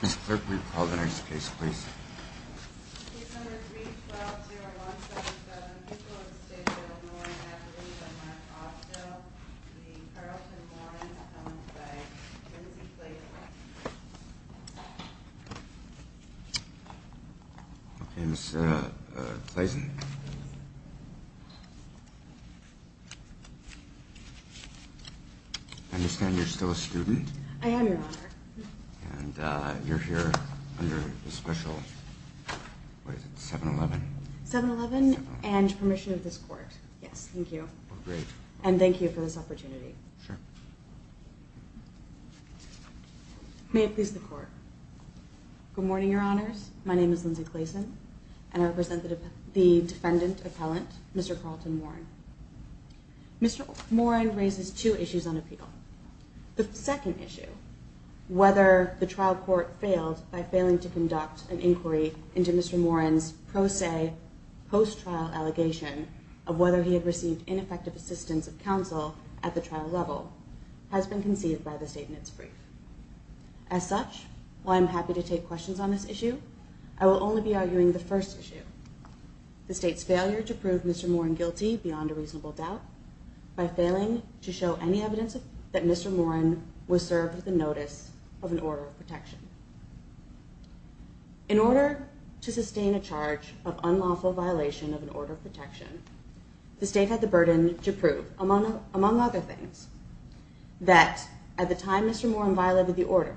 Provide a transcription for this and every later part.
Mr. Clerk, will you call the next case, please? Case number 3-12-0177, Euclid and St. Bill Moren. Activated on March 5th, still. The Carlton Morens, owned by Lindsay Clayton. Okay, Ms. Clayton. I understand you're still a student? I am, Your Honor. And you're here under the special, what is it, 7-11? 7-11 and permission of this Court. Yes, thank you. Great. And thank you for this opportunity. Sure. May it please the Court. Good morning, Your Honors. My name is Lindsay Clayton. And I represent the defendant appellant, Mr. Carlton Moren. Mr. Moren raises two issues on appeal. The second issue, whether the trial court failed by failing to conduct an inquiry into Mr. Moren's pro se, post-trial allegation of whether he had received ineffective assistance of counsel at the trial level, has been conceived by the State in its brief. As such, while I'm happy to take questions on this issue, I will only be arguing the first issue, the State's failure to prove Mr. Moren guilty beyond a reasonable doubt by failing to show any evidence that Mr. Moren was served with the notice of an order of protection. In order to sustain a charge of unlawful violation of an order of protection, the State had the burden to prove, among other things, that at the time Mr. Moren violated the order,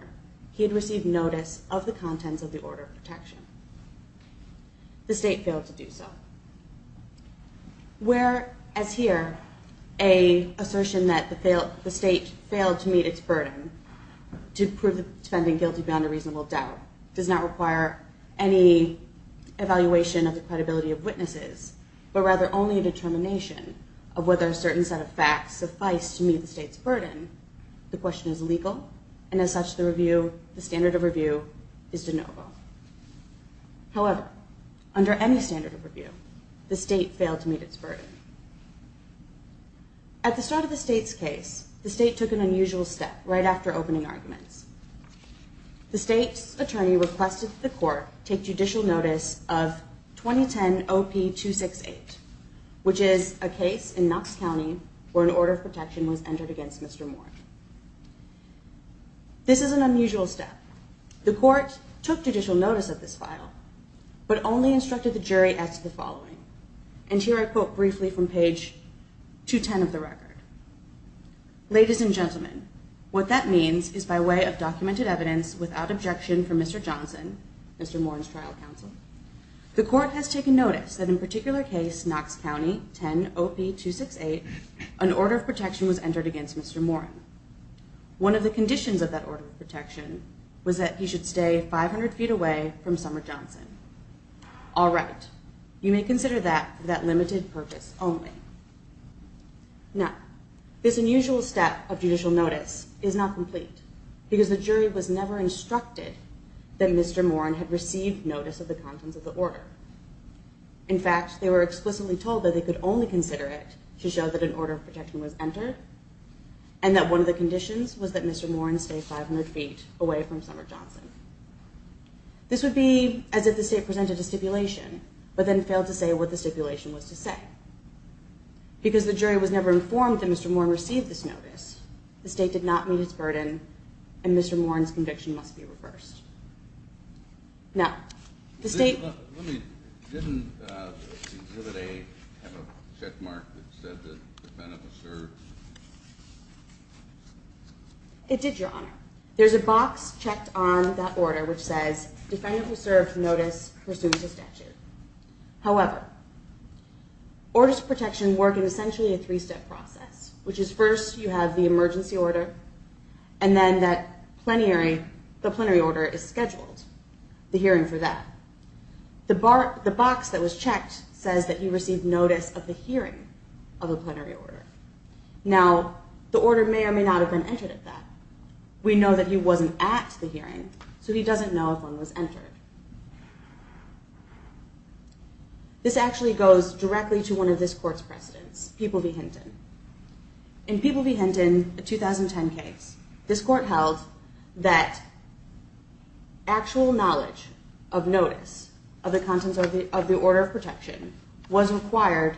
he had received notice of the contents of the order of protection. The State failed to do so. Where, as here, an assertion that the State failed to meet its burden to prove the defendant guilty beyond a reasonable doubt does not require any evaluation of the credibility of witnesses, but rather only a determination of whether a certain set of facts suffice to meet the State's burden, the question is legal, and as such, the standard of review is de novo. However, under any standard of review, the State failed to meet its burden. At the start of the State's case, the State took an unusual step right after opening arguments. The State's attorney requested that the court take judicial notice of 2010 OP268, which is a case in Knox County where an order of protection was entered against Mr. Moren. This is an unusual step. The court took judicial notice of this file, but only instructed the jury as to the following, and here I quote briefly from page 210 of the record. Ladies and gentlemen, what that means is by way of documented evidence, without objection from Mr. Johnson, Mr. Moren's trial counsel, the court has taken notice that in a particular case, Knox County, 10 OP268, an order of protection was entered against Mr. Moren. One of the conditions of that order of protection was that he should stay 500 feet away from Summer Johnson. All right, you may consider that for that limited purpose only. Now, this unusual step of judicial notice is not complete because the jury was never instructed that Mr. Moren had received notice of the contents of the order. In fact, they were explicitly told that they could only consider it to show that an order of protection was entered and that one of the conditions was that Mr. Moren stay 500 feet away from Summer Johnson. This would be as if the state presented a stipulation but then failed to say what the stipulation was to say. Because the jury was never informed that Mr. Moren received this notice, the state did not meet its burden and Mr. Moren's conviction must be reversed. Now, the state... Didn't the exhibit have a checkmark that said that the defendant was served? It did, Your Honor. There's a box checked on that order which says, Defendant who served notice pursues the statute. However, orders of protection work in essentially a three-step process, which is first you have the emergency order and then the plenary order is scheduled, the hearing for that. The box that was checked says that he received notice of the hearing of the plenary order. Now, the order may or may not have been entered at that. We know that he wasn't at the hearing so he doesn't know if one was entered. This actually goes directly to one of this court's precedents, People v. Hinton. In People v. Hinton, a 2010 case, this court held that actual knowledge of notice of the contents of the order of protection was required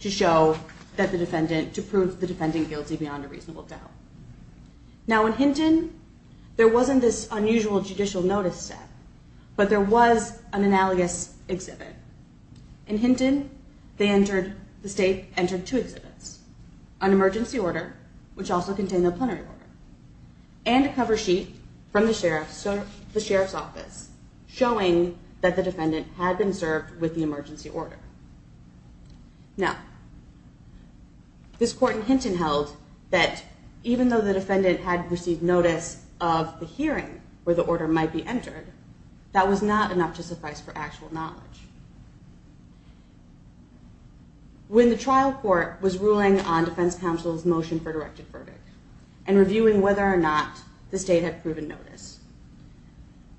to show that the defendant... to prove the defendant guilty beyond a reasonable doubt. Now, in Hinton, there wasn't this unusual judicial notice set, but there was an analogous exhibit. In Hinton, they entered... the state entered two exhibits, an emergency order, which also contained a plenary order, and a cover sheet from the sheriff's office showing that the defendant had been served with the emergency order. Now, this court in Hinton held that even though the defendant had received notice of the hearing where the order might be entered, that was not enough to suffice for actual knowledge. When the trial court was ruling on defense counsel's motion for directed verdict and reviewing whether or not the state had proven notice,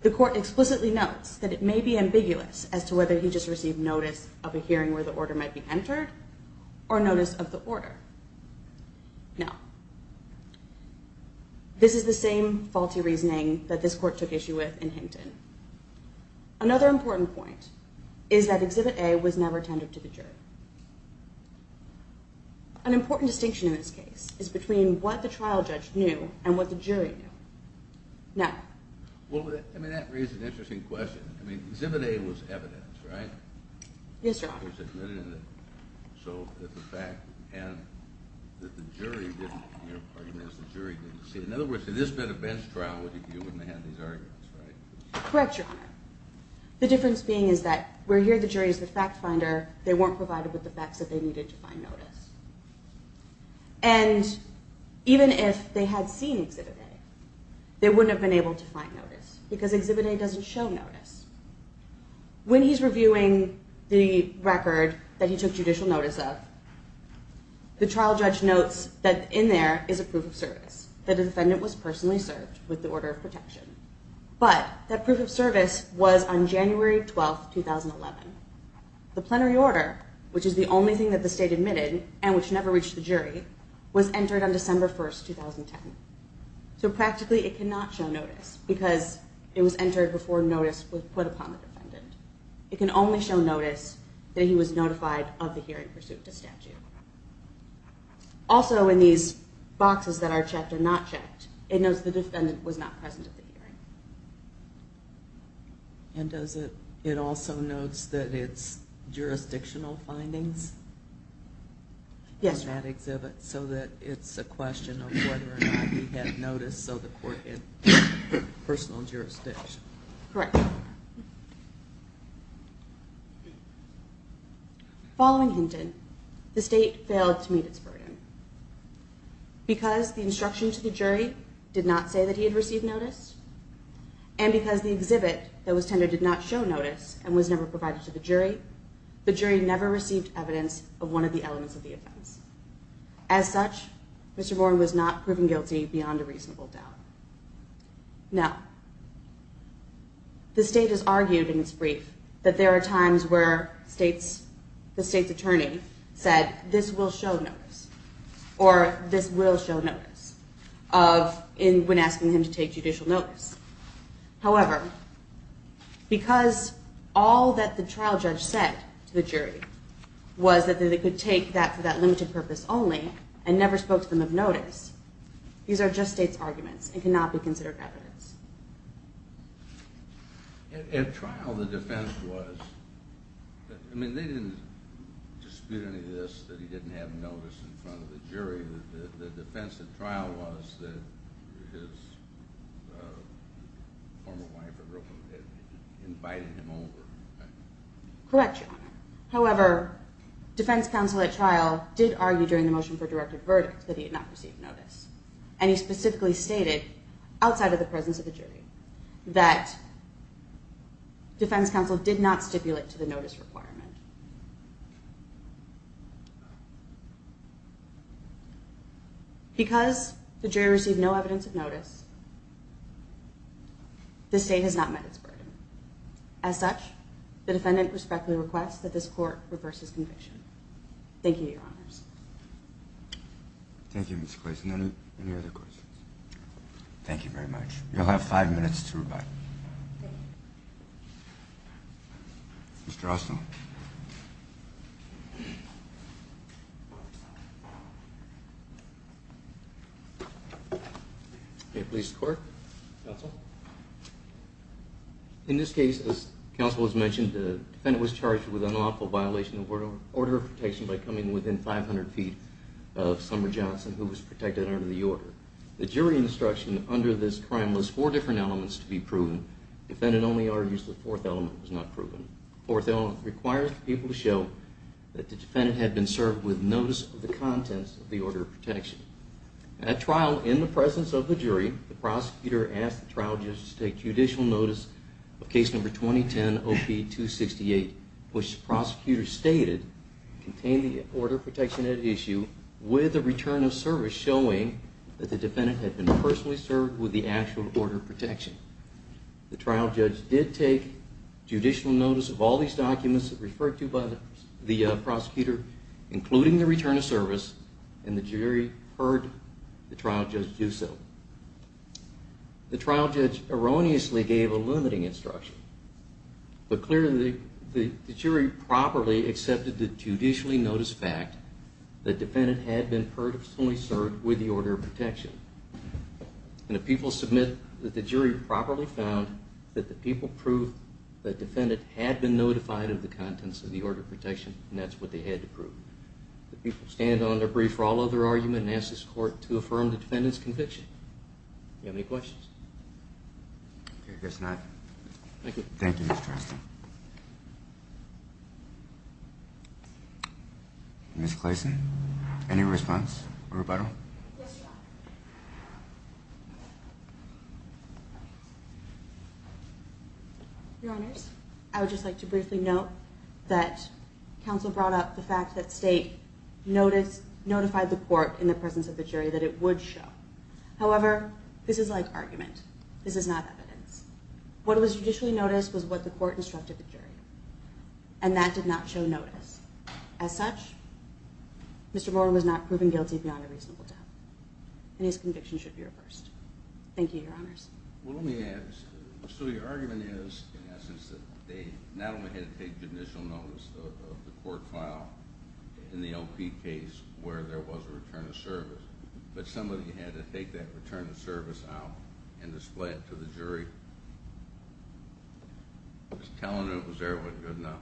the court explicitly notes that it may be ambiguous as to whether he just received notice of a hearing where the order might be entered or notice of the order. Now, this is the same faulty reasoning that this court took issue with in Hinton. Another important point is that Exhibit A was never tended to the jury. An important distinction in this case is between what the trial judge knew and what the jury knew. Never. Well, I mean, that raises an interesting question. I mean, Exhibit A was evidence, right? Yes, Your Honor. It was admitted in it, so that the jury didn't see it. In other words, if this had been a bench trial, you wouldn't have had these arguments, right? Correct, Your Honor. The difference being is that where here the jury is the fact finder, they weren't provided with the facts that they needed to find notice. And even if they had seen Exhibit A, they wouldn't have been able to find notice because Exhibit A doesn't show notice. When he's reviewing the record that he took judicial notice of, the trial judge notes that in there is a proof of service, that the defendant was personally served with the order of protection. But that proof of service was on January 12, 2011. The plenary order, which is the only thing that the state admitted and which never reached the jury, was entered on December 1, 2010. So practically it cannot show notice because it was entered before notice was put upon the defendant. It can only show notice that he was notified of the hearing pursuit to statute. Also in these boxes that are checked and not checked, it notes the defendant was not present at the hearing. And does it also note that it's jurisdictional findings? Yes. So that it's a question of whether or not he had notice so the court had personal jurisdiction. Correct. Following Hinton, the state failed to meet its burden. Because the instruction to the jury did not say that he had received notice, and because the exhibit that was tendered did not show notice and was never provided to the jury, the jury never received evidence of one of the elements of the offense. As such, Mr. Boren was not proven guilty beyond a reasonable doubt. Now, the state has argued in its brief that there are times where the state's attorney said, this will show notice. Or this will show notice when asking him to take judicial notice. However, because all that the trial judge said to the jury was that they could take that for that limited purpose only and never spoke to them of notice, these are just state's arguments and cannot be considered evidence. At trial, the defense was... I mean, they didn't dispute any of this that he didn't have notice in front of the jury. The defense at trial was that his former wife had invited him over. Correct, Your Honor. However, defense counsel at trial did argue during the motion for directed verdict that he had not received notice. And he specifically stated, outside of the presence of the jury, that defense counsel did not stipulate to the notice requirement. Because the jury received no evidence of notice, the state has not met its burden. As such, the defendant respectfully requests that this court reverse his conviction. Thank you, Your Honors. Thank you, Ms. Clayson. Any other questions? Thank you very much. You'll have five minutes to rebut. Thank you. Mr. Austin. May it please the court. Counsel. In this case, as counsel has mentioned, the defendant was charged with an unlawful violation of the order of protection by coming within 500 feet of Summer Johnson, who was protected under the order. The jury instruction under this crime was four different elements to be proven. The defendant only argues the fourth element was not proven. The fourth element requires the people to show that the defendant had been served with notice of the contents of the order of protection. At trial, in the presence of the jury, the prosecutor asked the trial judge to take judicial notice of case number 2010-OP-268, which the prosecutor stated contained the order of protection at issue with a return of service showing that the defendant had been personally served with the actual order of protection. The trial judge did take judicial notice of all these documents referred to by the prosecutor, including the return of service, and the jury heard the trial judge do so. The trial judge erroneously gave a limiting instruction. But clearly, the jury properly accepted the judicially noticed fact that the defendant had been personally served with the order of protection. And the people submit that the jury properly found that the people proved that the defendant had been notified of the contents of the order of protection, and that's what they had to prove. The people stand on their brief for all other argument and ask this court to affirm the defendant's conviction. Do you have any questions? Okay, I guess not. Thank you. Thank you, Mr. Arston. Ms. Clayson, any response or rebuttal? Yes, Your Honor. Your Honors, I would just like to briefly note that counsel brought up the fact that State notified the court in the presence of the jury that it would show. However, this is like argument. This is not evidence. What was judicially noticed was what the court instructed the jury, and that did not show notice. As such, Mr. Boren was not proven guilty beyond a reasonable doubt, and his conviction should be reversed. Thank you, Your Honors. Well, let me add, so your argument is, in essence, that they not only had to take judicial notice of the court trial in the LP case where there was a return of service, but somebody had to take that return of service out and display it to the jury. Telling them it was there wasn't good enough.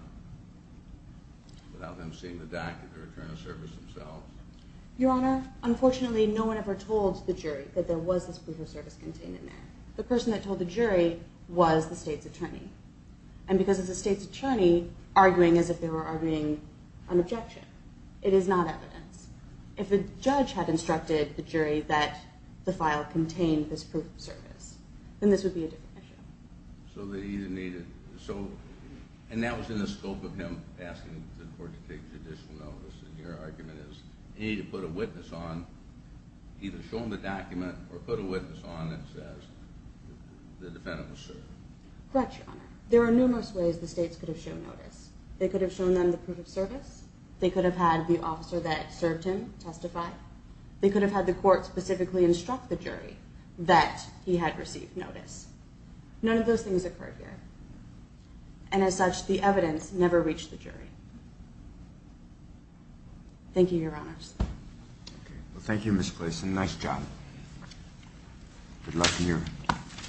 Without them seeing the doc and the return of service themselves. Your Honor, unfortunately, no one ever told the jury that there was this brief of service contained in there. The person that told the jury was the State's attorney. And because it's the State's attorney, arguing as if they were arguing on objection. It is not evidence. If the judge had instructed the jury that the file contained this proof of service, then this would be a different issue. So they either needed... And that was in the scope of him asking the court to take judicial notice. And your argument is, he needed to put a witness on, that says the defendant was served. Correct, Your Honor. There are numerous ways the States could have shown notice. They could have shown them the proof of service. They could have had the officer that served him testify. They could have had the court specifically instruct the jury that he had received notice. None of those things occurred here. And as such, the evidence never reached the jury. Thank you, Your Honors. Thank you, Ms. Clayson. Nice job. Good luck in your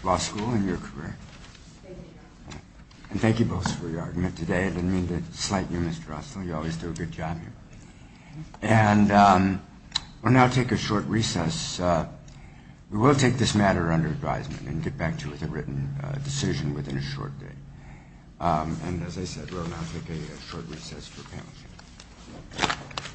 law school and your career. Thank you, Your Honor. And thank you both for your argument today. I didn't mean to slight you, Mr. Osler. You always do a good job here. And we'll now take a short recess. We will take this matter under advisement and get back to you with a written decision within a short day. And as I said, we'll now take a short recess for panel discussion.